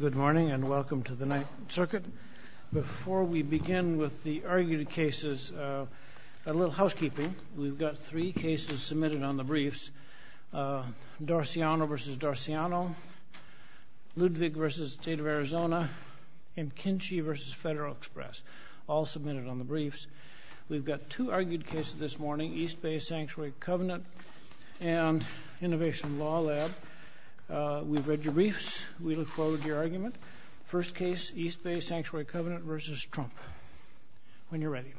Good morning and welcome to the Ninth Circuit. Before we begin with the argued cases, a little housekeeping. We've got three cases submitted on the briefs. Dorciano v. Dorciano, Ludwig v. State of Arizona, and Kinchy v. Federal Express. All submitted on the briefs. We've got two argued cases this morning. East Bay Sanctuary Covenant and Innovation Law Lab. We've read your briefs. We look forward to your argument. First case, East Bay Sanctuary Covenant v. Trump. When you're ready.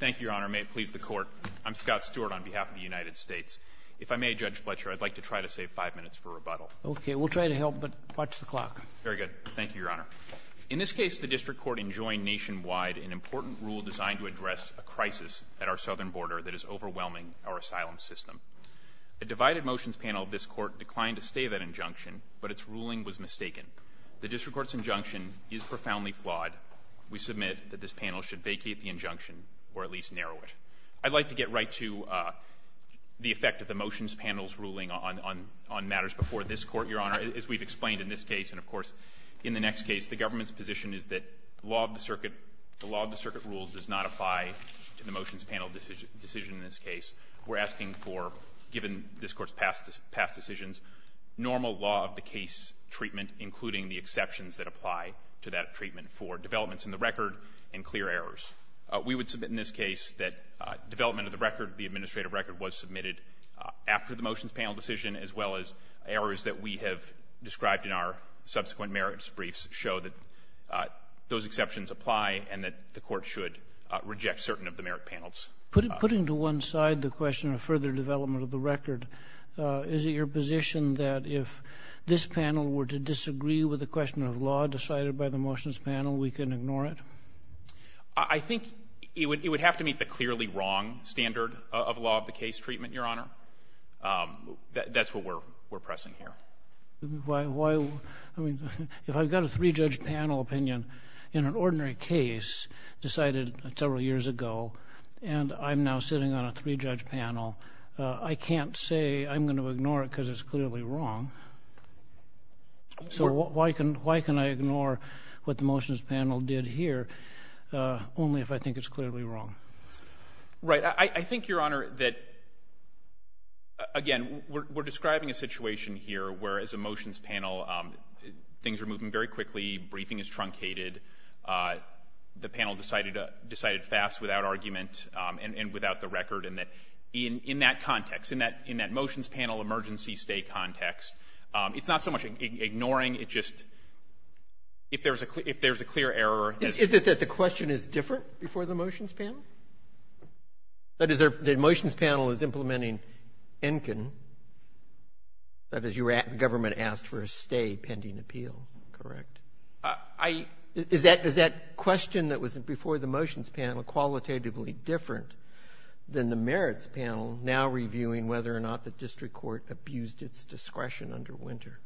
Thank you, Your Honor. May it please the Court, I'm Scott Stewart on behalf of the United States. If I may, Judge Fletcher, I'd like to try to save five minutes for rebuttal. Okay. We'll try to help, but watch the clock. Very good. Thank you, Your Honor. In this case, the district court enjoined nationwide an important rule designed to address a crisis at our southern border that is overwhelming our asylum system. A divided motions panel of this Court declined to stay that injunction, but its ruling was mistaken. The district court's injunction is profoundly flawed. We submit that this panel should vacate the injunction or at least narrow it. I'd like to get right to the effect of the motions panel's ruling on matters before this Court, Your Honor. As we've explained in this case and, of course, in the next case, the government's position is that the law of the circuit rules does not apply to the motions panel decision in this case. We're asking for, given this Court's past decisions, normal law of the case treatment, including the exceptions that apply to that treatment for developments in the record and clear errors. We would submit in this case that development of the record, the administrative record, was submitted after the motions panel decision, as well as errors that we have described in our subsequent merits briefs show that those exceptions apply and that the Court should reject certain of the merit panels. Putting to one side the question of further development of the record, is it your position that if this panel were to disagree with the question of law decided by the motions panel, we can ignore it? I think it would have to meet the clearly wrong standard of law of the case treatment, Your Honor. That's what we're pressing here. Why? I mean, if I've got a three-judge panel opinion in an ordinary case decided several years ago, and I'm now sitting on a three-judge panel, I can't say I'm going to ignore it because it's clearly wrong. So why can I ignore what the motions panel did here? Only if I think it's clearly wrong. Right. I think, Your Honor, that, again, we're describing a situation here where, as a motions panel, things are moving very quickly, briefing is truncated, the panel decided fast without argument and without the record, and that in that context, in that motions panel emergency stay context, it's not so much ignoring, it's just if there's a clear error. Is it that the question is different before the motions panel? That is, the motions panel is implementing ENCAN, that is, the government asked for a stay pending appeal, correct? I — Is that question that was before the motions panel qualitatively different than the merits panel now reviewing whether or not the district court abused its discretion under Winter?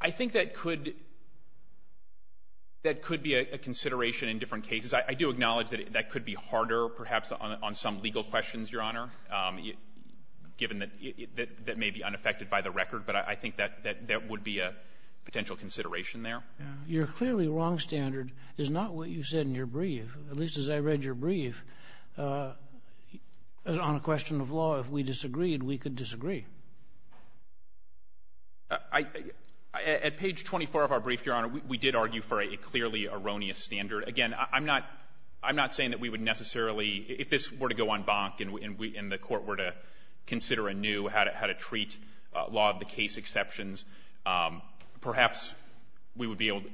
I think that could — that could be a consideration in different cases. I do acknowledge that that could be harder, perhaps, on some legal questions, Your Honor, given that — that may be unaffected by the record, but I think that would be a potential consideration there. Your clearly wrong standard is not what you said in your brief, at least as I read your brief, on a question of law. If we disagreed, we could disagree. I — at page 24 of our brief, Your Honor, we did argue for a clearly erroneous standard. Again, I'm not — I'm not saying that we would necessarily — if this were to go en banc and we — and the court were to consider anew how to treat law of the case exceptions, perhaps we would be able to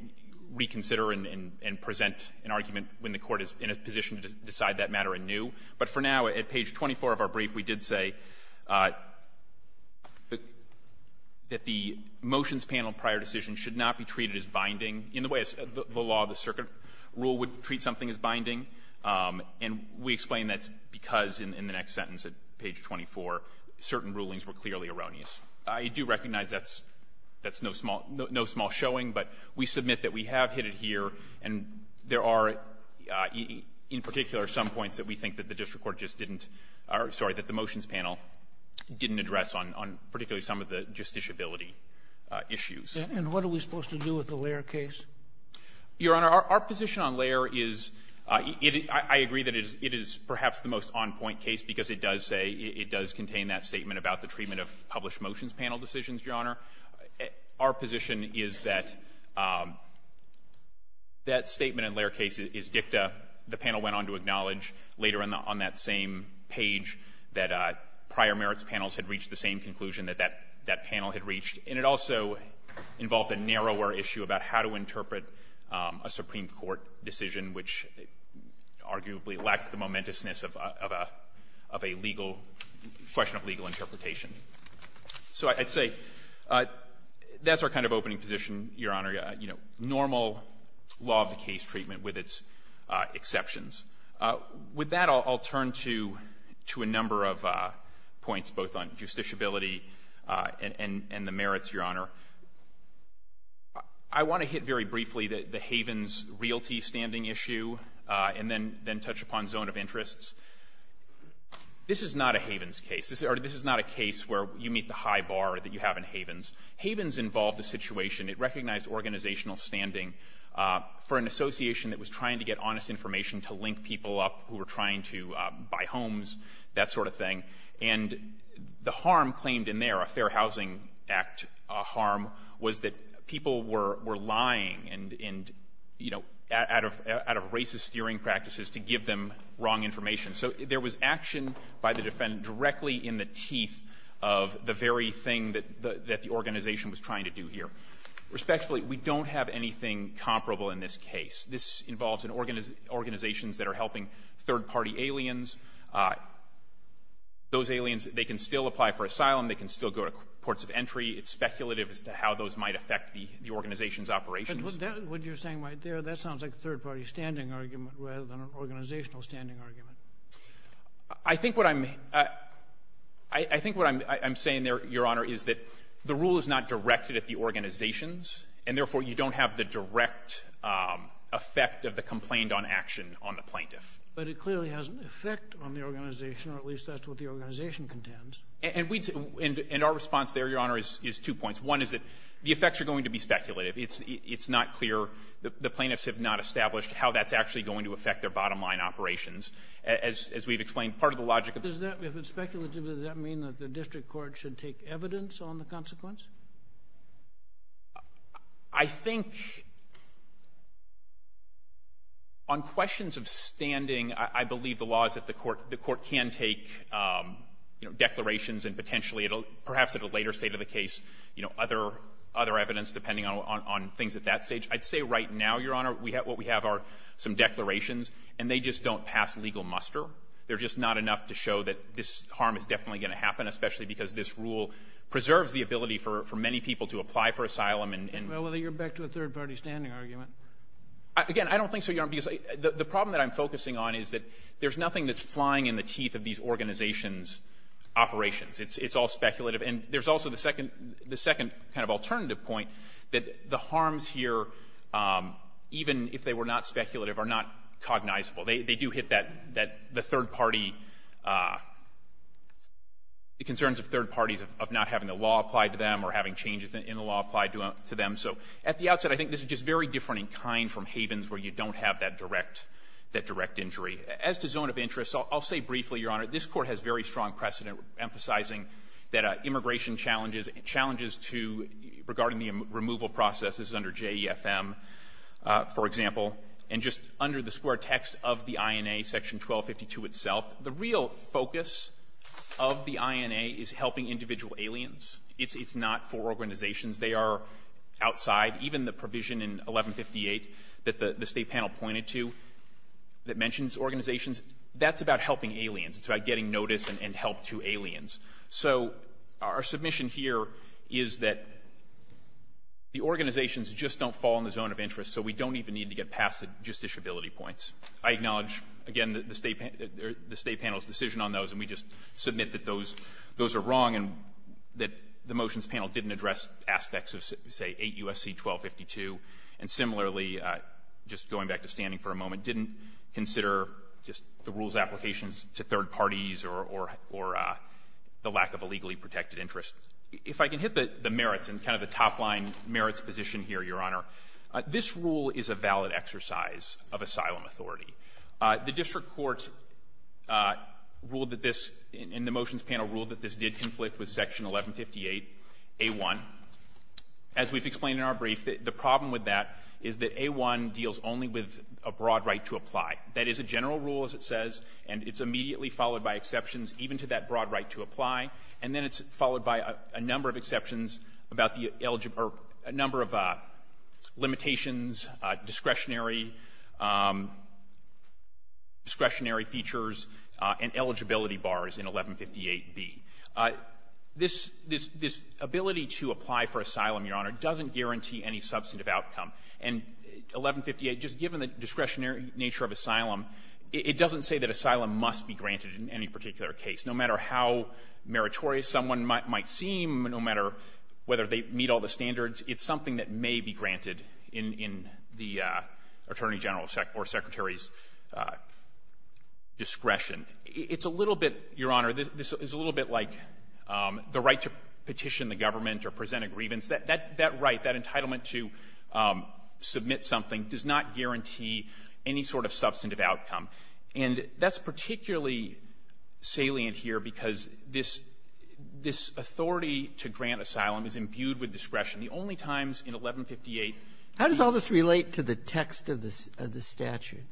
reconsider and present an argument when the court were to decide that matter anew. But for now, at page 24 of our brief, we did say that the motions panel prior decision should not be treated as binding in the way the law of the circuit rule would treat something as binding, and we explain that's because in the next sentence at page 24 certain rulings were clearly erroneous. I do recognize that's — that's no small — no small showing, but we submit that we have hit it here, and there are, in particular, some points that we think that the district court just didn't — or, sorry, that the motions panel didn't address on — on particularly some of the justiciability issues. And what are we supposed to do with the Lair case? Your Honor, our position on Lair is — I agree that it is perhaps the most on-point case because it does say — it does contain that statement about the treatment of published motions panel decisions, Your Honor. Our position is that that statement in Lair case is dicta. The panel went on to acknowledge later on that same page that prior merits panels had reached the same conclusion that that — that panel had reached. And it also involved a narrower issue about how to interpret a Supreme Court decision, which arguably lacks the momentousness of a — of a legal — question of legal interpretation. So I'd say that's our kind of opening position, Your Honor. You know, normal law-of-the-case treatment with its exceptions. With that, I'll turn to — to a number of points, both on justiciability and — and the merits, Your Honor. I want to hit very briefly the Havens realty standing issue, and then touch upon zone of interests. This is not a Havens case. This is not a case where you meet the high bar that you have in Havens. Havens involved a situation. It recognized organizational standing for an association that was trying to get honest information to link people up who were trying to buy homes, that sort of thing. And the harm claimed in there, a Fair Housing Act harm, was that people were — were lying and — and, you know, out of — out of racist steering practices to give them wrong information. So there was action by the defendant directly in the teeth of the very thing that — that the organization was trying to do here. Respectfully, we don't have anything comparable in this case. This involves an — organizations that are helping third-party aliens. Those aliens, they can still apply for asylum. They can still go to ports of entry. It's speculative as to how those might affect the — the organization's operations. But that — what you're saying right there, that sounds like a third-party standing argument rather than an organizational standing argument. I think what I'm — I think what I'm — I'm saying there, Your Honor, is that the rule is not directed at the organizations, and therefore, you don't have the direct effect of the complaint on action on the plaintiff. But it clearly has an effect on the organization, or at least that's what the organization contends. And we — and our response there, Your Honor, is — is two points. One is that the effects are going to be speculative. It's — it's not clear — the plaintiffs have not established how that's actually going to affect their bottom-line operations. As — as we've explained, part of the logic of the — Does that — if it's speculative, does that mean that the district court should take evidence on the consequence? I think on questions of standing, I — I believe the law is that the court — the court can take, you know, declarations and potentially it'll — perhaps at a later state of the case, you know, other — other evidence, depending on — on things at that stage. I'd say right now, Your Honor, we have — what we have are some declarations, and they just don't pass legal muster. They're just not enough to show that this harm is definitely going to happen, especially because this rule preserves the ability for — for many people to apply for asylum and — Well, you're back to a third-party standing argument. Again, I don't think so, Your Honor, because the — the problem that I'm focusing on is that there's nothing that's flying in the teeth of these organizations' operations. It's — it's all speculative. And there's also the second — the second kind of alternative point, that the harms here, even if they were not speculative, are not cognizable. They — they do hit that — that — the third-party — the concerns of third parties of not having the law applied to them or having changes in the law applied to them. So at the outset, I think this is just very different in kind from havens where you don't have that direct — that direct injury. As to zone of interest, I'll say briefly, Your Honor, this Court has very strong precedent emphasizing that immigration challenges — challenges to — regarding the removal process. This is under JEFM, for example. And just under the square text of the INA, Section 1252 itself, the real focus of the INA is helping individual aliens. It's — it's not for organizations. They are outside. Even the provision in 1158 that the — the State panel pointed to that mentions organizations, that's about helping aliens. It's about getting notice and help to aliens. So our submission here is that the organizations just don't fall in the zone of interest, so we don't even need to get past the justiciability points. I acknowledge, again, the State — the State panel's decision on those, and we just submit that those — those are wrong and that the motions panel didn't address aspects of, say, 8 U.S.C. 1252. And similarly, just going back to standing for a moment, didn't consider just the parties or — or the lack of a legally protected interest. If I can hit the merits and kind of the top-line merits position here, Your Honor, this rule is a valid exercise of asylum authority. The district court ruled that this — and the motions panel ruled that this did conflict with Section 1158a1. As we've explained in our brief, the problem with that is that a1 deals only with a broad right to apply. That is a general rule, as it says, and it's immediately followed by exceptions even to that broad right to apply, and then it's followed by a number of exceptions about the — or a number of limitations, discretionary — discretionary features, and eligibility bars in 1158b. This — this — this ability to apply for asylum, Your Honor, doesn't guarantee any substantive outcome. And 1158, just given the discretionary nature of asylum, it doesn't say that asylum must be granted in any particular case. No matter how meritorious someone might — might seem, no matter whether they meet all the standards, it's something that may be granted in — in the Attorney General or Secretary's discretion. It's a little bit — Your Honor, this is a little bit like the right to petition the government or present a grievance. That — that right, that entitlement to submit something, does not guarantee any sort of substantive outcome. And that's particularly salient here because this — this authority to grant asylum is imbued with discretion. The only times in 1158 — Breyer, how does all this relate to the text of the — of the statute?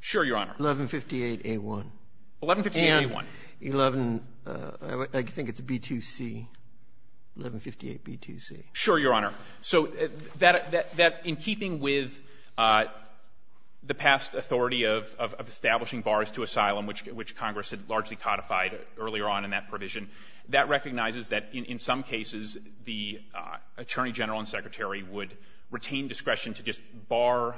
Sure, Your Honor. 1158a1. 1158a1. And 11 — I think it's b2c. 1158b2c. Sure, Your Honor. So that — that in keeping with the past authority of — of establishing bars to asylum, which — which Congress had largely codified earlier on in that provision, that recognizes that in some cases the Attorney General and Secretary would retain discretion to just bar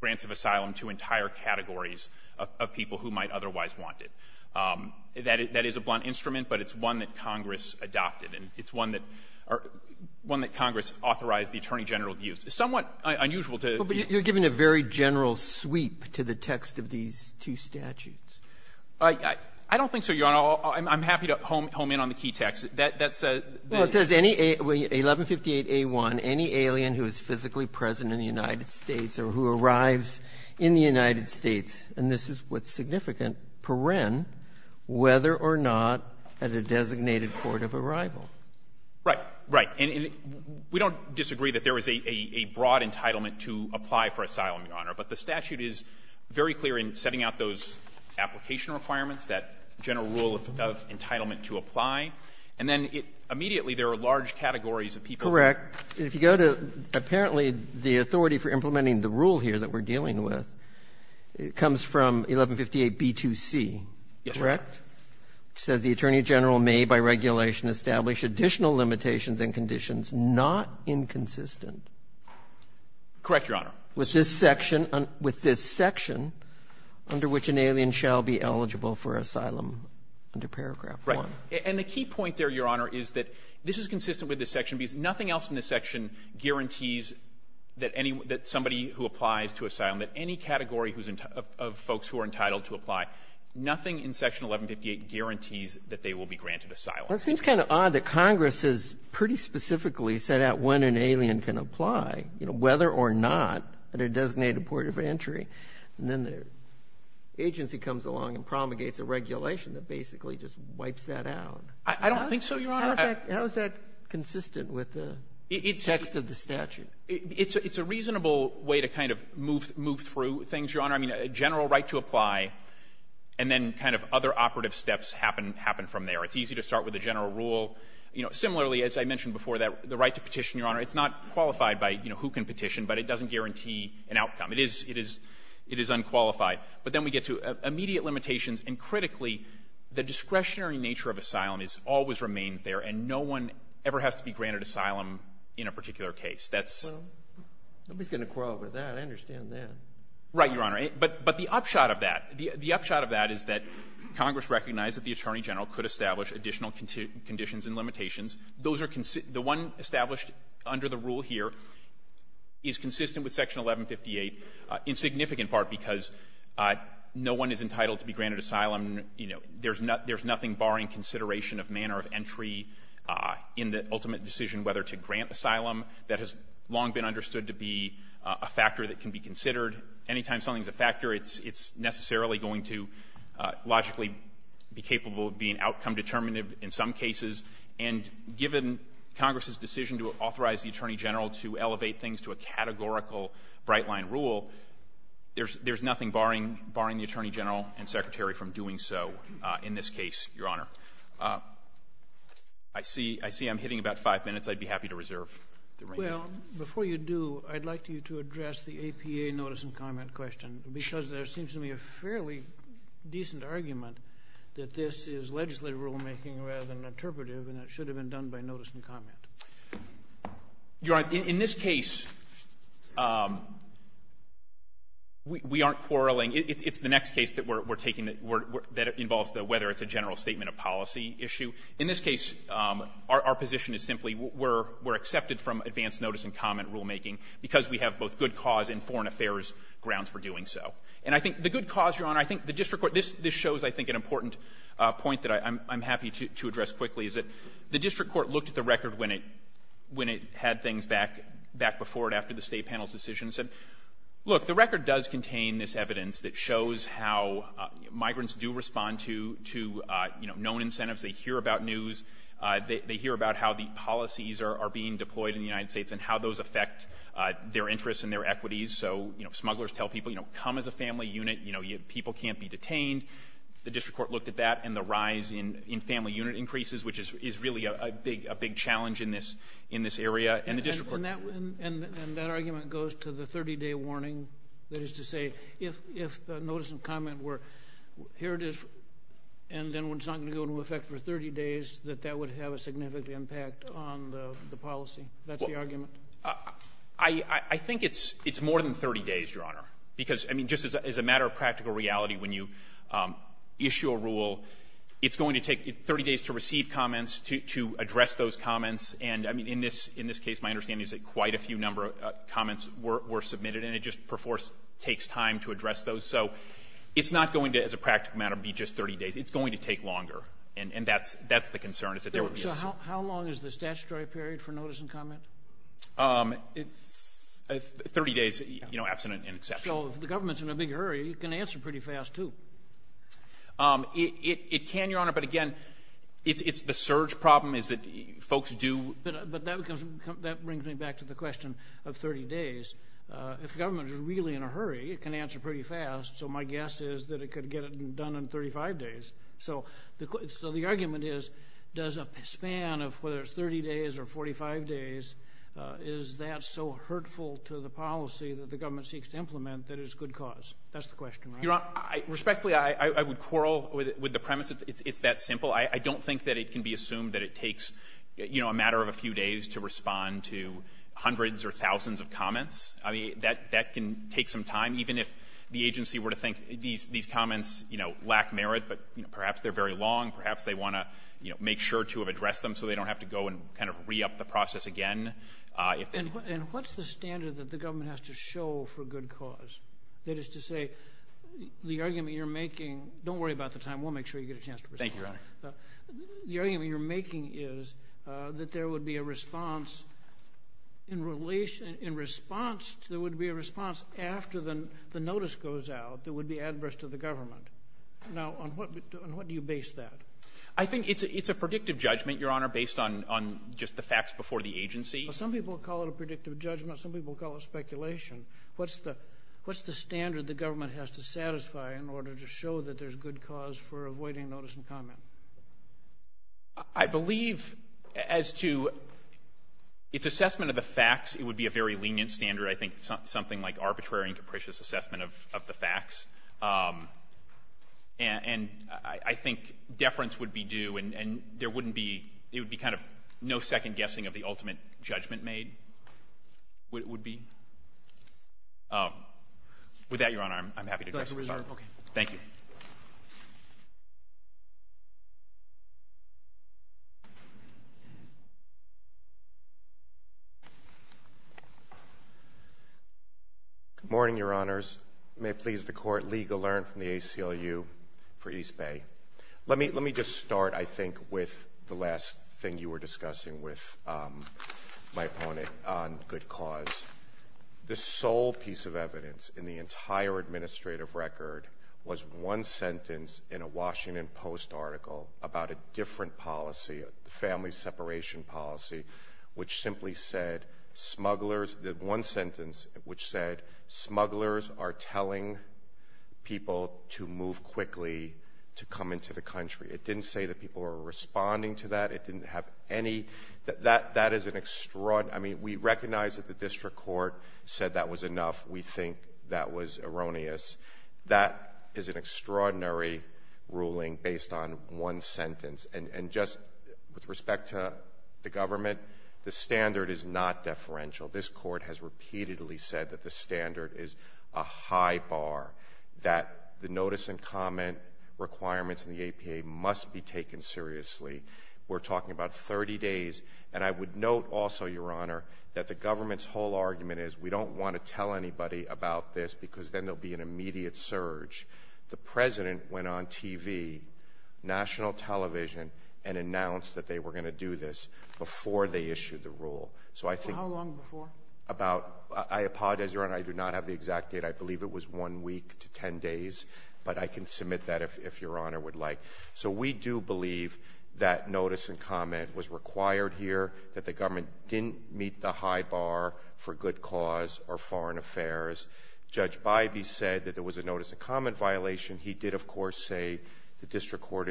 grants of asylum to entire categories of people who might otherwise want it. That — that is a blunt instrument, but it's one that Congress adopted. And it's one that — one that Congress authorized the Attorney General to use. It's somewhat unusual to — But you're giving a very general sweep to the text of these two statutes. I — I don't think so, Your Honor. I'm happy to home in on the key text. That — that's a — Well, it says any — 1158a1, any alien who is physically present in the United States, and this is what's significant, per ren, whether or not at a designated court of arrival. Right. Right. And we don't disagree that there is a — a broad entitlement to apply for asylum, Your Honor, but the statute is very clear in setting out those application requirements, that general rule of — of entitlement to apply. And then it — immediately there are large categories of people. Correct. If you go to, apparently, the authority for implementing the rule here that we're dealing with, it comes from 1158b2c, correct? Yes, Your Honor. It says the Attorney General may by regulation establish additional limitations and conditions not inconsistent. Correct, Your Honor. With this section — with this section under which an alien shall be eligible for asylum under paragraph 1. Right. And the key point there, Your Honor, is that this is consistent with this section because nothing else in this section guarantees that any — that somebody who applies to asylum, that any category of folks who are entitled to apply, nothing in section 1158 guarantees that they will be granted asylum. Well, it seems kind of odd that Congress has pretty specifically set out when an alien can apply, you know, whether or not at a designated port of entry, and then the agency comes along and promulgates a regulation that basically just wipes that out. I don't think so, Your Honor. How is that consistent with the text of the statute? It's a reasonable way to kind of move through things, Your Honor. I mean, a general right to apply and then kind of other operative steps happen from there. It's easy to start with a general rule. You know, similarly, as I mentioned before, the right to petition, Your Honor, it's not qualified by, you know, who can petition, but it doesn't guarantee an outcome. It is unqualified. But then we get to immediate limitations, and critically, the discretionary nature of asylum always remains there, and no one ever has to be granted asylum in a particular case. That's — Well, nobody's going to quarrel with that. I understand that. Right, Your Honor. But the upshot of that, the upshot of that is that Congress recognized that the Attorney General could establish additional conditions and limitations. Those are — the one established under the rule here is consistent with section 1158 in significant part because no one is entitled to be granted asylum. You know, there's nothing barring consideration of manner of entry in the ultimate decision whether to grant asylum that has long been understood to be a factor that can be considered. Anytime something's a factor, it's necessarily going to logically be capable of being outcome-determinative in some cases. And given Congress's decision to authorize the Attorney General to elevate things to a categorical bright-line rule, there's nothing barring the Attorney General and Secretary from doing so in this case, Your Honor. I see — I see I'm hitting about five minutes. I'd be happy to reserve the remainder. Well, before you do, I'd like you to address the APA notice and comment question because there seems to be a fairly decent argument that this is legislative rulemaking rather than interpretive, and it should have been done by notice and comment. Your Honor, in this case, we aren't quarreling. It's the next case that we're taking that involves the whether it's a general statement of policy issue. In this case, our position is simply we're accepted from advance notice and comment rulemaking because we have both good cause and foreign affairs grounds for doing And I think the good cause, Your Honor, I think the district court — this shows, I think, an important point that I'm happy to address quickly, is that the district court looked at the record when it had things back before and after the State panel's decision and said, look, the record does contain this evidence that shows how migrants do respond to — to, you know, known incentives. They hear about news. They hear about how the policies are being deployed in the United States and how those affect their interests and their equities. So, you know, smugglers tell people, you know, come as a family unit. You know, people can't be detained. The district court looked at that, and the rise in family unit increases, which is really a big — a big challenge in this — in this area, and the district court And that argument goes to the 30-day warning, that is to say, if the notice and comment were, here it is, and then it's not going to go into effect for 30 days, that that would have a significant impact on the policy. That's the argument. I think it's more than 30 days, Your Honor, because, I mean, just as a matter of practical reality, when you issue a rule, it's going to take 30 days to receive comments, to address those comments. And, I mean, in this — in this case, my understanding is that quite a few number of comments were — were submitted, and it just takes time to address those. So it's not going to, as a practical matter, be just 30 days. It's going to take longer. And that's — that's the concern, is that there would be a — So how long is the statutory period for notice and comment? 30 days, you know, absent an exception. So if the government's in a big hurry, it can answer pretty fast, too. It can, Your Honor. But, again, it's — it's the surge problem, is that folks do — But that becomes — that brings me back to the question of 30 days. If the government is really in a hurry, it can answer pretty fast. So my guess is that it could get it done in 35 days. So the — so the argument is, does a span of whether it's 30 days or 45 days, is that so hurtful to the policy that the government seeks to implement that it's good cause? That's the question, right? Your Honor, respectfully, I would quarrel with the premise that it's that simple. I don't think that it can be assumed that it takes, you know, a matter of a few days to respond to hundreds or thousands of comments. I mean, that can take some time, even if the agency were to think these comments, you know, lack merit, but, you know, perhaps they're very long. Perhaps they want to, you know, make sure to have addressed them so they don't have to go and kind of re-up the process again. And what's the standard that the government has to show for good cause? That is to say, the argument you're making — don't worry about the time. We'll make sure you get a chance to respond. Thank you, Your Honor. The argument you're making is that there would be a response in relation — in response — there would be a response after the notice goes out that would be adverse to the government. Now, on what do you base that? I think it's a predictive judgment, Your Honor, based on just the facts before the agency. Well, some people call it a predictive judgment. Some people call it speculation. What's the — what's the standard the government has to satisfy in order to show that there's good cause for avoiding notice and comment? I believe as to its assessment of the facts, it would be a very lenient standard. I think something like arbitrary and capricious assessment of the facts. And I think deference would be due, and there wouldn't be — it would be kind of no second-guessing of the ultimate judgment made, would be. With that, Your Honor, I'm happy to address the Court. Thank you. Good morning, Your Honors. May it please the Court, Lee Gallant from the ACLU for East Bay. Let me just start, I think, with the last thing you were discussing with my opponent on good cause. The sole piece of evidence in the entire administrative record was one sentence in a Washington Post article about a different policy, a family separation policy, which simply said smugglers — the one sentence which said smugglers are telling people to move quickly to come into the country. It didn't say that people were responding to that. It didn't have any — that is an extraordinary — I mean, we recognize that the district court said that was enough. We think that was erroneous. That is an extraordinary ruling based on one sentence. And just with respect to the government, the standard is not deferential. This Court has repeatedly said that the standard is a high bar, that the notice and comment requirements in the APA must be taken seriously. We're talking about 30 days. And I would note also, Your Honor, that the government's whole argument is we don't want to tell anybody about this because then there will be an immediate surge. The President went on TV, national television, and announced that they were going to do this before they issued the rule. So I think — Sotomayor, how long before? I apologize, Your Honor. I do not have the exact date. I believe it was one week to 10 days. But I can submit that if Your Honor would like. So we do believe that notice and comment was required here, that the government didn't meet the high bar for good cause or foreign affairs. Judge Bybee said that there was a notice and comment violation. He did, of course, say the district court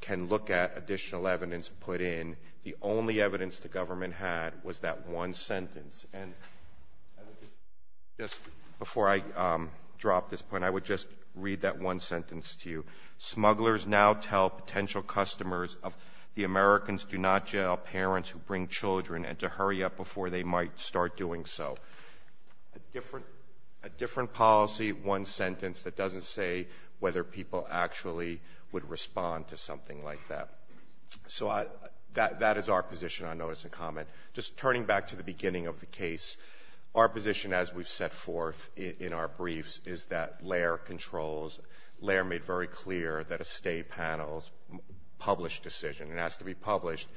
can look at additional evidence put in. The only evidence the government had was that one sentence. And just before I drop this point, I would just read that one sentence to you. Smugglers now tell potential customers of the Americans do not jail parents who bring children and to hurry up before they might start doing so. A different policy, one sentence that doesn't say whether people actually would respond to something like that. So I — that is our position on notice and comment. Just turning back to the beginning of the case, our position as we've set forth in our briefs is that Laird controls — Laird made very clear that a State panel's published decision, and it has to be published,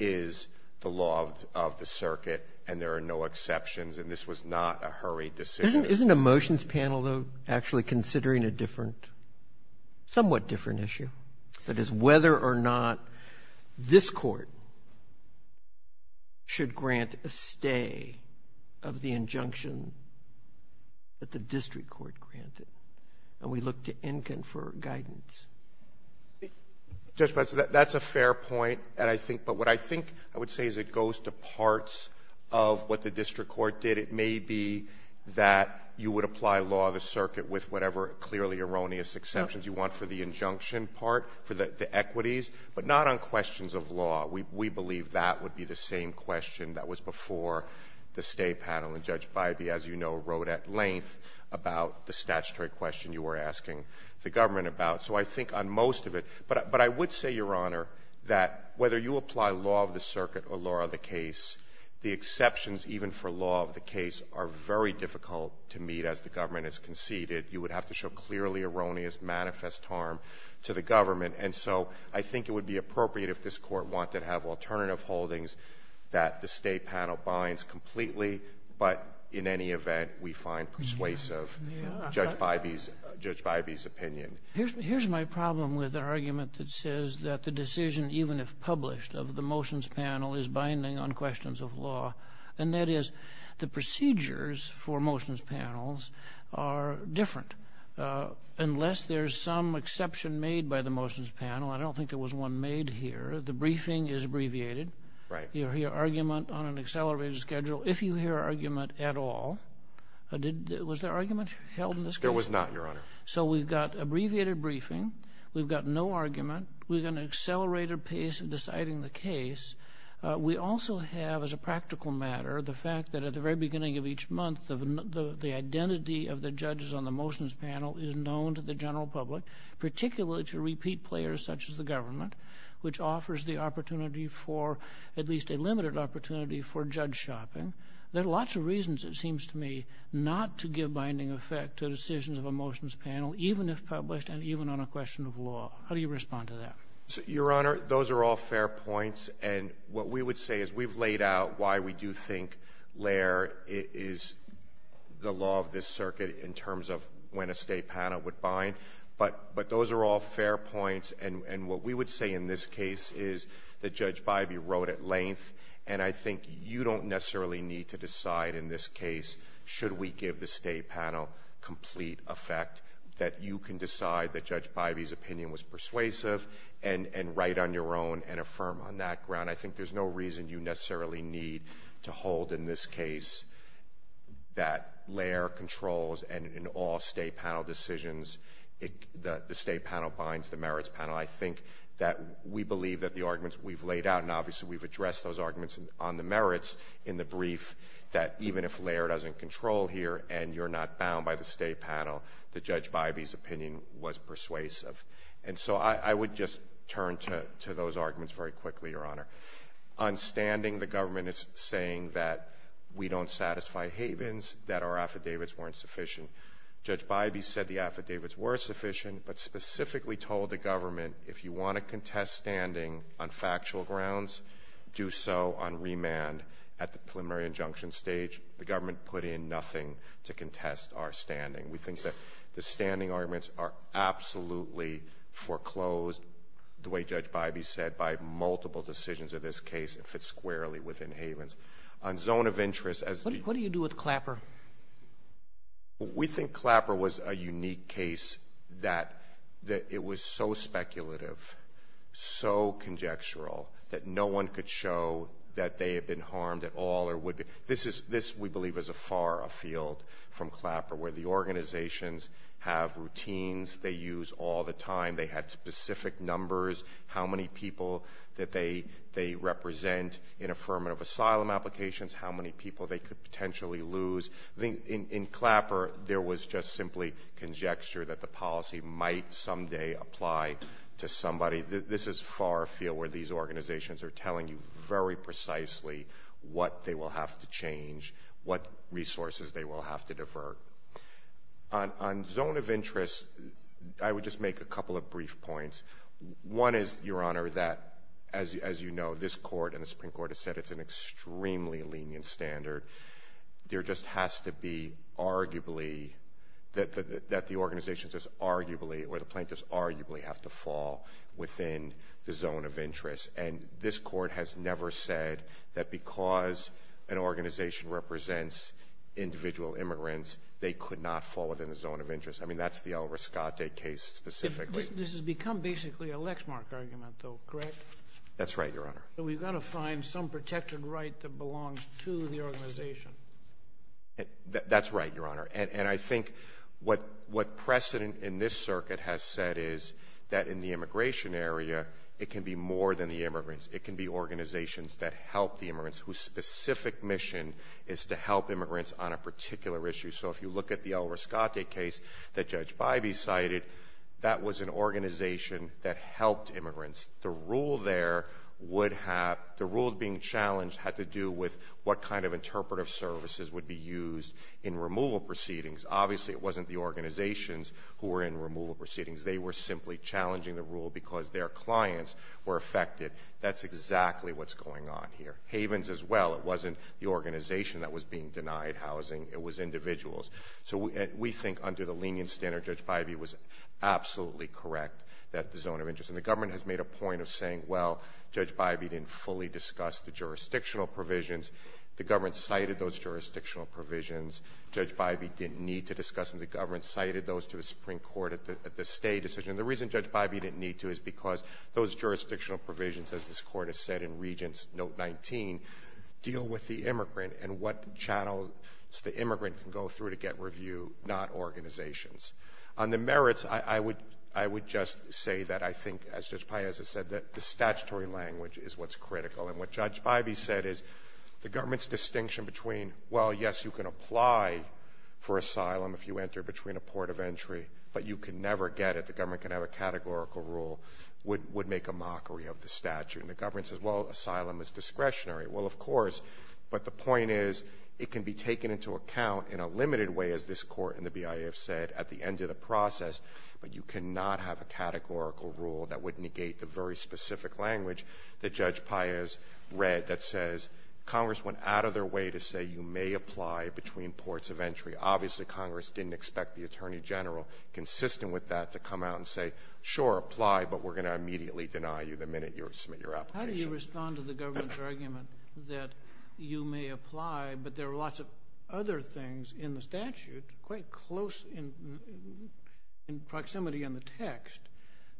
is the law of the circuit, and there are no exceptions. And this was not a hurried decision. Isn't a motions panel, though, actually considering a different — somewhat different issue? That is, whether or not this Court should grant a stay of the injunction that the district court granted? And we look to Enkin for guidance. Roberts. That's a fair point, and I think — but what I think I would say is it goes to parts of what the district court did. It may be that you would apply law of the circuit with whatever clearly erroneous exceptions you want for the injunction part, for the equities, but not on questions of law. We believe that would be the same question that was before the State panel. And Judge Bybee, as you know, wrote at length about the statutory question you were asking the government about. So I think on most of it — but I would say, Your Honor, that whether you apply law of the circuit or law of the case, the exceptions even for law of the case are very difficult to meet as the government has conceded. You would have to show clearly erroneous, manifest harm to the government. And so I think it would be appropriate if this Court wanted to have alternative holdings that the State panel binds completely, but in any event, we find persuasive Judge Bybee's — Judge Bybee's opinion. Here's my problem with the argument that says that the decision, even if published, of the motions panel is binding on questions of law. And that is, the procedures for motions panels are different. Unless there's some exception made by the motions panel — I don't think there was one made here — the briefing is abbreviated. Right. You hear argument on an accelerated schedule, if you hear argument at all. Was there argument held in this case? There was not, Your Honor. So we've got abbreviated briefing. We've got no argument. We've got an accelerated pace of deciding the case. We also have, as a practical matter, the fact that at the very beginning of each month, the identity of the judges on the motions panel is known to the general public, particularly to repeat players such as the government, which offers the opportunity for — at least a limited opportunity for judge shopping. There are lots of reasons, it seems to me, not to give binding effect to decisions of a motions panel, even if published and even on a question of law. How do you respond to that? Your Honor, those are all fair points. And what we would say is we've laid out why we do think LAIR is the law of this circuit in terms of when a state panel would bind. But those are all fair points. And what we would say in this case is that Judge Bybee wrote at length, and I think you don't necessarily need to decide in this case should we give the state panel complete effect, that you can decide that Judge Bybee's opinion was persuasive and write on your own and affirm on that ground. I think there's no reason you necessarily need to hold in this case that LAIR controls, and in all state panel decisions, the state panel binds, the merits panel. I think that we believe that the arguments we've laid out, and obviously we've addressed those arguments on the merits in the brief, that even if LAIR doesn't control here and you're not bound by the state panel, that Judge Bybee's opinion was persuasive. And so I would just turn to those arguments very quickly, Your Honor. On standing, the government is saying that we don't satisfy Havens, that our affidavits weren't sufficient. Judge Bybee said the affidavits were sufficient, but specifically told the government if you want to contest standing on factual grounds, do so on remand at the preliminary injunction stage. The government put in nothing to contest our standing. We think that the standing arguments are absolutely foreclosed, the way Judge Bybee said, by multiple decisions of this case. It fits squarely within Havens. On zone of interest, as we ---- What do you do with Clapper? We think Clapper was a unique case that it was so speculative, so conjectural that no one could show that they had been harmed at all or would be. This, we believe, is far afield from Clapper, where the organizations have routines they use all the time. They had specific numbers, how many people that they represent in affirmative asylum applications, how many people they could potentially lose. In Clapper, there was just simply conjecture that the policy might someday apply to somebody. This is far afield where these organizations are telling you very precisely what they will have to change, what resources they will have to divert. On zone of interest, I would just make a couple of brief points. One is, Your Honor, that, as you know, this Court and the Supreme Court have said it's an extremely lenient standard. There just has to be arguably, that the organizations just arguably or the plaintiffs arguably have to fall within the zone of interest. And this Court has never said that because an organization represents individual immigrants, they could not fall within the zone of interest. I mean, that's the El Rescate case specifically. This has become basically a Lexmark argument, though, correct? That's right, Your Honor. So we've got to find some protected right that belongs to the organization. That's right, Your Honor. And I think what precedent in this circuit has said is that in the immigration area, it can be more than the immigrants. It can be organizations that help the immigrants whose specific mission is to help immigrants on a particular issue. So if you look at the El Rescate case that Judge Bybee cited, that was an organization that helped immigrants. The rule there would have, the rule being challenged had to do with what kind of interpretive services would be used in removal proceedings. Obviously, it wasn't the organizations who were in removal proceedings. They were simply challenging the rule because their clients were affected. That's exactly what's going on here. Havens as well. It wasn't the organization that was being denied housing. It was individuals. So we think under the lenient standard, Judge Bybee was absolutely correct that the zone of interest. And the government has made a point of saying, well, Judge Bybee didn't fully discuss the jurisdictional provisions. The government cited those jurisdictional provisions. Judge Bybee didn't need to discuss them. The government cited those to the Supreme Court at the State decision. And the reason Judge Bybee didn't need to is because those jurisdictional provisions, as this Court has said in Regents Note 19, deal with the immigrant and what channels the immigrant can go through to get review, not organizations. On the merits, I would just say that I think, as Judge Paez has said, that the statutory language is what's critical. And what Judge Bybee said is the government's distinction between, well, yes, you can apply for asylum if you enter between a port of entry, but you can never get it, the government can have a categorical rule, would make a mockery of the statute. And the government says, well, asylum is discretionary. Well, of course. But the point is it can be taken into account in a limited way, as this Court and the BIA have said, at the end of the process, but you cannot have a categorical rule that would negate the very specific language that Judge Paez read that says Congress went out of their way to say you may apply between ports of entry. Obviously, Congress didn't expect the Attorney General, consistent with that, to come out and say, sure, apply, but we're going to immediately deny you the minute you submit your application. How do you respond to the government's argument that you may apply, but there are lots of other things in the statute, quite close in proximity in the text,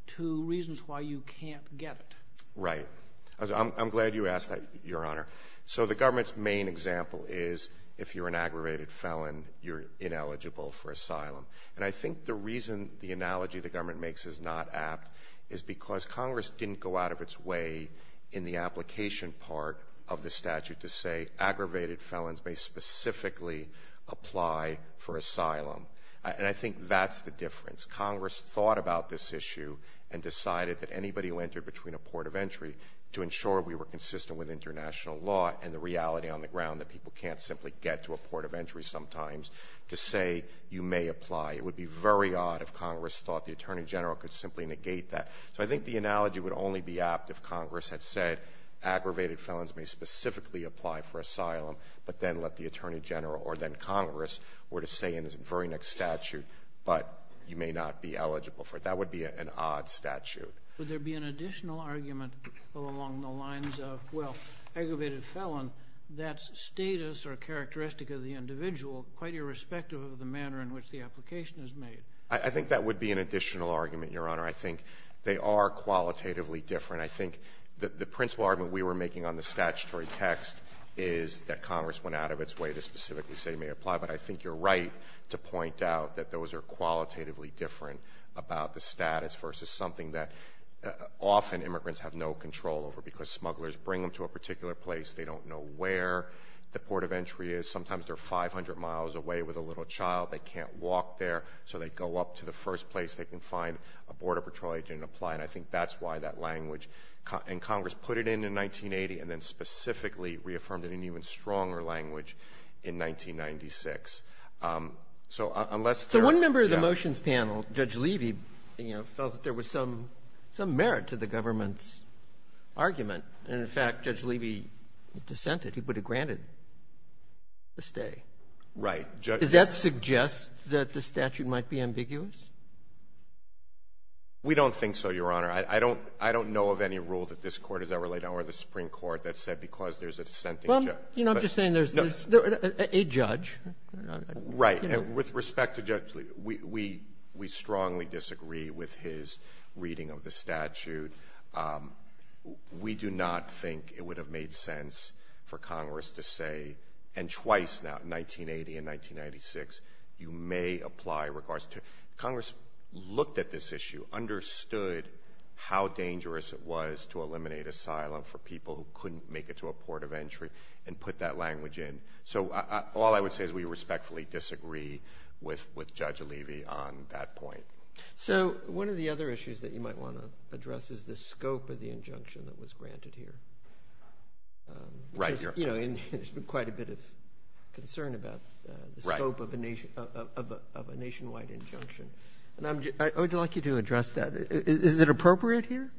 to reasons why you can't get it? Right. I'm glad you asked that, Your Honor. So the government's main example is if you're an aggravated felon, you're ineligible for asylum. And I think the reason the analogy the government makes is not apt is because Congress didn't go out of its way in the application part of the statute to say aggravated felons may specifically apply for asylum. And I think that's the difference. Congress thought about this issue and decided that anybody who entered between a port of entry to ensure we were consistent with international law and the reality on the ground that people can't simply get to a port of entry sometimes to say you may apply. It would be very odd if Congress thought the Attorney General could simply negate that. So I think the analogy would only be apt if Congress had said aggravated felons may specifically apply for asylum, but then let the Attorney General or then Congress were to say in the very next statute, but you may not be eligible for it. That would be an odd statute. Would there be an additional argument along the lines of, well, aggravated felon, that's status or characteristic of the individual quite irrespective of the manner in which the application is made? I think that would be an additional argument, Your Honor. I think they are qualitatively different. I think the principal argument we were making on the statutory text is that Congress went out of its way to specifically say may apply, but I think you're right to point out that those are qualitatively different about the status versus something that often immigrants have no control over because smugglers bring them to a particular place. They don't know where the port of entry is. Sometimes they're 500 miles away with a little child. They can't walk there, so they go up to the first place they can find a Border Patrol agent and apply, and I think that's why that language. And Congress put it in in 1980 and then specifically reaffirmed it in an even stronger language in 1996. So unless there are no other judges. So one member of the motions panel, Judge Levy, you know, felt that there was some merit to the government's argument, and in fact, Judge Levy dissented. He would have granted the stay. Right. Does that suggest that the statute might be ambiguous? We don't think so, Your Honor. I don't know of any rule that this Court has ever laid down or the Supreme Court that said because there's a dissenting judge. But, you know, I'm just saying there's a judge. Right. And with respect to Judge Levy, we strongly disagree with his reading of the statute. We do not think it would have made sense for Congress to say, and twice now, in 1980 and 1996, you may apply regards to it. Congress looked at this issue, understood how dangerous it was to eliminate asylum for people who couldn't make it to a port of entry and put that language in. So all I would say is we respectfully disagree with Judge Levy on that point. So one of the other issues that you might want to address is the scope of the injunction that was granted here. Right. You know, there's been quite a bit of concern about the scope of a nationwide injunction. And I would like you to address that. Is it appropriate here?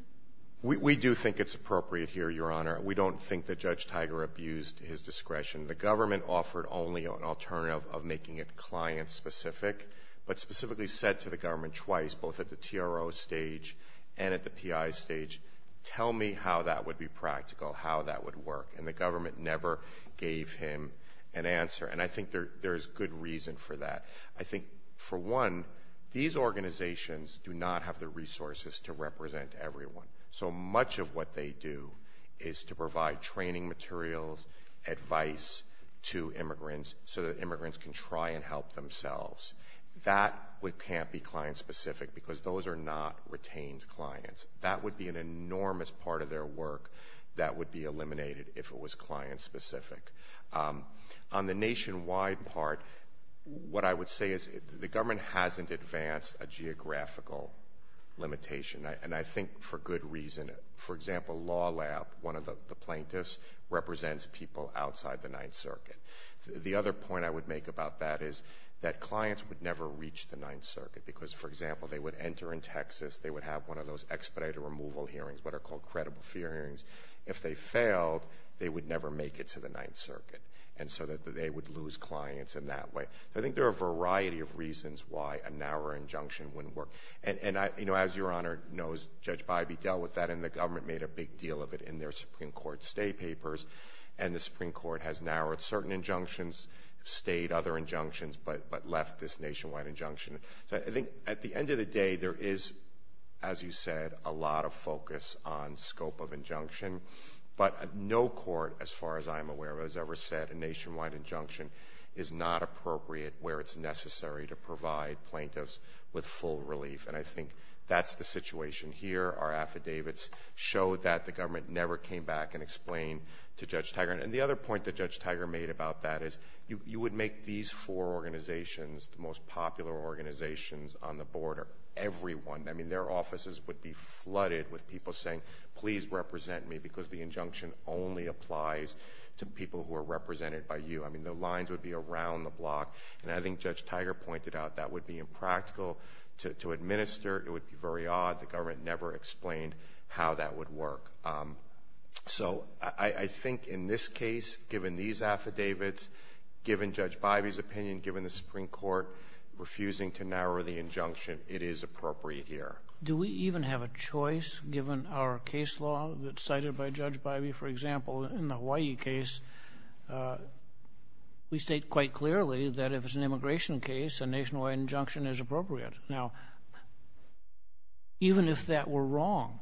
We do think it's appropriate here, Your Honor. We don't think that Judge Tiger abused his discretion. The government offered only an alternative of making it client-specific, but specifically said to the government twice, both at the TRO stage and at the PI stage, tell me how that would be practical, how that would work. And the government never gave him an answer. And I think there's good reason for that. I think, for one, these organizations do not have the resources to represent everyone. So much of what they do is to provide training materials, advice to immigrants, so that immigrants can try and help themselves. That can't be client-specific because those are not retained clients. That would be an enormous part of their work that would be eliminated if it was client-specific. On the nationwide part, what I would say is the government hasn't advanced a geographical limitation. And I think for good reason. For example, Law Lab, one of the plaintiffs, represents people outside the Ninth Circuit. The other point I would make about that is that clients would never reach the Ninth Circuit because, for example, they would enter in Texas, they would have one of those expedited removal hearings, what are called credible fear hearings. If they failed, they would never make it to the Ninth Circuit. And so they would lose clients in that way. So I think there are a variety of reasons why a narrower injunction wouldn't work. And, you know, as Your Honor knows, Judge Bybee dealt with that, and the government made a big deal of it in their Supreme Court stay papers. And the Supreme Court has narrowed certain injunctions, stayed other injunctions, but left this nationwide injunction. So I think at the end of the day, there is, as you said, a lot of focus on scope of injunction. But no court, as far as I'm aware of, has ever said a nationwide injunction is not appropriate where it's necessary to provide plaintiffs with full relief. And I think that's the situation here. Our affidavits show that the government never came back and explained to Judge Tiger. And the other point that Judge Tiger made about that is you would make these four organizations the most popular organizations on the border, everyone. I mean, their offices would be flooded with people saying, please represent me because the injunction only applies to people who are represented by you. I mean, the lines would be around the block. And I think Judge Tiger pointed out that would be impractical to administer. It would be very odd. The government never explained how that would work. So I think in this case, given these affidavits, given Judge Bybee's opinion, given the Supreme Court refusing to narrow the injunction, it is appropriate here. Do we even have a choice given our case law that's cited by Judge Bybee? For example, in the Hawaii case, we state quite clearly that if it's an immigration case, a nationwide injunction is appropriate. Now, even if that were wrong,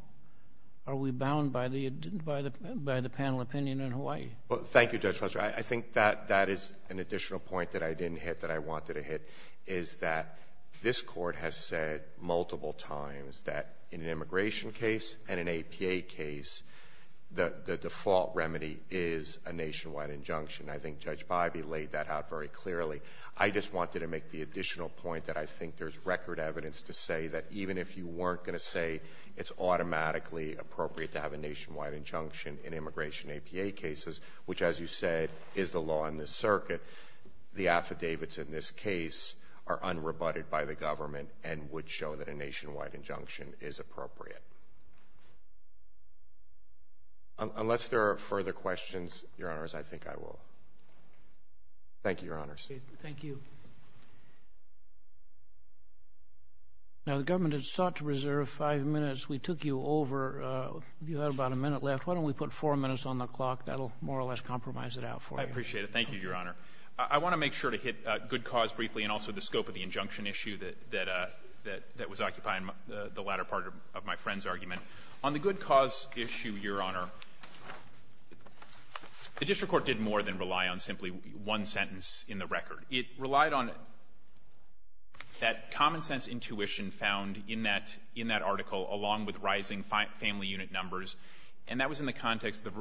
are we bound by the panel opinion in Hawaii? Thank you, Judge Fletcher. I think that is an additional point that I didn't hit that I wanted to hit, is that this Court has said multiple times that in an immigration case and an APA case, the default remedy is a nationwide injunction. I think Judge Bybee laid that out very clearly. I just wanted to make the additional point that I think there's record evidence to say that even if you weren't going to say it's automatically appropriate to have a nationwide injunction in immigration APA cases, which, as you said, is the law in this circuit, the affidavits in this case are unrebutted by the government and would show that a nationwide injunction is appropriate. Unless there are further questions, Your Honors, I think I will. Thank you, Your Honors. Thank you. Now, the government has sought to reserve five minutes. We took you over. You had about a minute left. Why don't we put four minutes on the clock? That will more or less compromise it out for you. I appreciate it. Thank you, Your Honor. I want to make sure to hit good cause briefly and also the scope of the injunction issue that was occupying the latter part of my friend's argument. On the good cause issue, Your Honor, the district court did more than rely on simply one sentence in the record. It relied on that common-sense intuition found in that article along with rising family unit numbers, and that was in the context of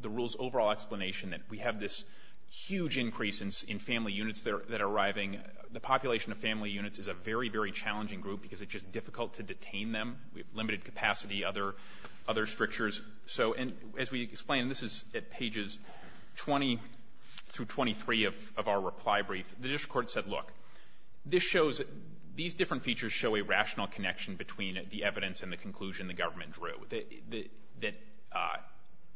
the rule's overall explanation that we have this huge increase in family units that are arriving. The population of family units is a very, very challenging group because it's just difficult to detain them. We have limited capacity, other strictures. So as we explain, and this is at pages 20 through 23 of our reply brief, the district court said, look, this shows that these different features show a rational connection between the evidence and the conclusion the government drew, that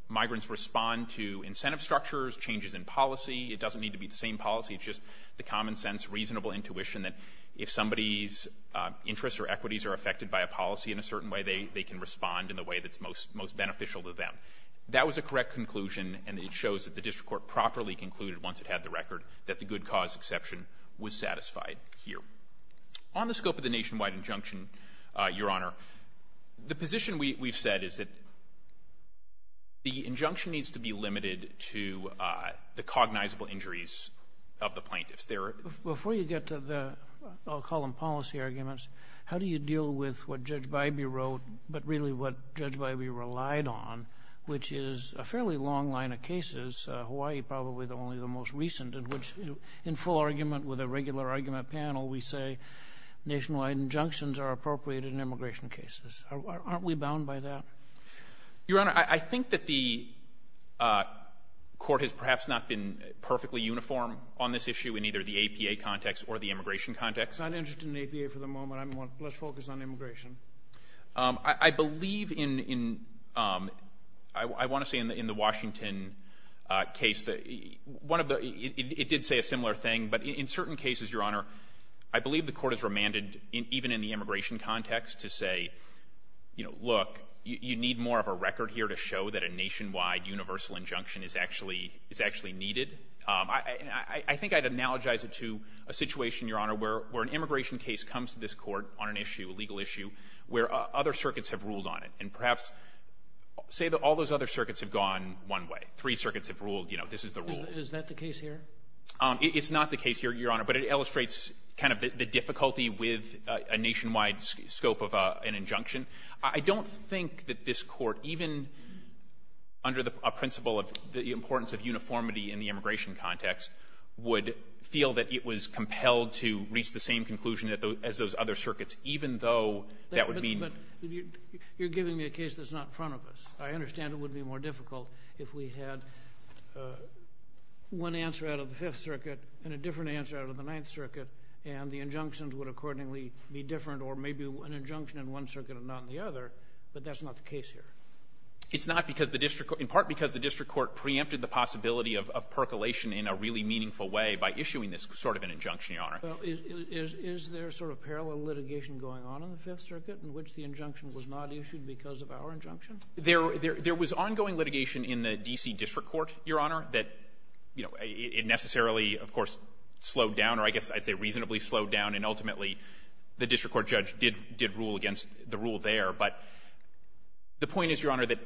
migrants respond to incentive structures, changes in policy. It doesn't need to be the same policy. It's just the common-sense, reasonable intuition that if somebody's interests or equities are affected by a policy in a certain way, they can respond in the way that's most beneficial to them. That was a correct conclusion, and it shows that the district court properly concluded once it had the record that the good cause exception was satisfied here. On the scope of the nationwide injunction, Your Honor, the position we've said is that the injunction needs to be limited to the cognizable injuries of the plaintiffs. Before you get to the, I'll call them policy arguments, how do you deal with what Judge Bybee wrote, but really what Judge Bybee relied on, which is a fairly long line of cases, Hawaii probably only the most recent, in which in full argument with a regular argument panel, we say nationwide injunctions are appropriate in immigration cases. Aren't we bound by that? Your Honor, I think that the Court has perhaps not been perfectly uniform on this issue in either the APA context or the immigration context. I'm not interested in APA for the moment. Let's focus on immigration. I believe in, I want to say in the Washington case, it did say a similar thing, but in certain cases, Your Honor, I believe the Court has remanded even in the immigration context to say, you know, look, you need more of a record here to show that a nationwide universal injunction is actually needed. I think I'd analogize it to a situation, Your Honor, where an immigration case comes to this Court on an issue, a legal issue, where other circuits have ruled on it, and perhaps say that all those other circuits have gone one way. Three circuits have ruled, you know, this is the rule. Is that the case here? It's not the case here, Your Honor, but it illustrates kind of the difficulty with a nationwide scope of an injunction. I don't think that this Court, even under the principle of the importance of uniformity in the immigration context, would feel that it was compelled to reach the same conclusion as those other circuits, even though that would mean ---- But you're giving me a case that's not in front of us. I understand it would be more difficult if we had one answer out of the Fifth Circuit and a different answer out of the Ninth Circuit, and the injunctions would accordingly be different or maybe an injunction in one circuit and not in the other, but that's not the case here. It's not because the district court ---- in part because the district court preempted the possibility of percolation in a really meaningful way by issuing this sort of an injunction, Your Honor. Is there sort of parallel litigation going on in the Fifth Circuit in which the injunction was not issued because of our injunction? There was ongoing litigation in the D.C. district court, Your Honor, that, you know, it necessarily, of course, slowed down, or I guess I'd say reasonably slowed down, and ultimately the district court judge did rule against the rule there. But the point is, Your Honor, that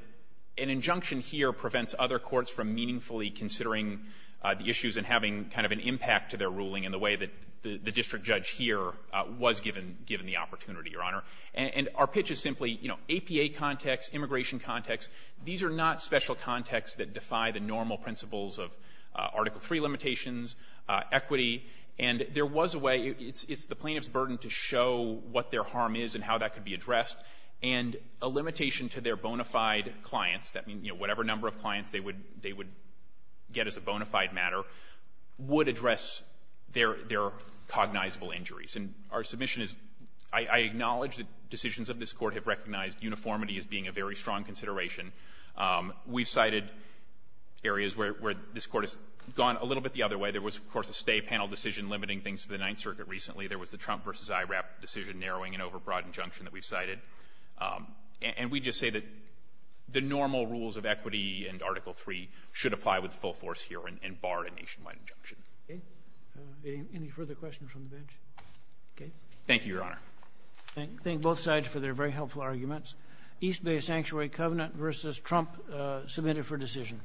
an injunction here prevents other courts from meaningfully considering the issues and having kind of an impact to their ruling in the way that the district judge here was given the opportunity, Your Honor. And our pitch is simply, you know, APA context, immigration context, these are not special contexts that defy the normal principles of Article III limitations, equity, and there was a way ---- it's the plaintiff's burden to show what their harm is and how that could be addressed. And a limitation to their bona fide clients, that means, you know, whatever number of clients they would get as a bona fide matter, would address their cognizable injuries. And our submission is ---- I acknowledge that decisions of this Court have recognized uniformity as being a very strong consideration. We've cited areas where this Court has gone a little bit the other way. There was, of course, a stay panel decision limiting things to the Ninth Circuit recently. There was the Trump v. IRAP decision narrowing an overbroad injunction that we've cited. And we just say that the normal rules of equity and Article III should apply with full force here and bar a nationwide injunction. Okay. Any further questions from the bench? Okay. Thank you, Your Honor. I thank both sides for their very helpful arguments. East Bay Sanctuary Covenant v. Trump submitted for decision.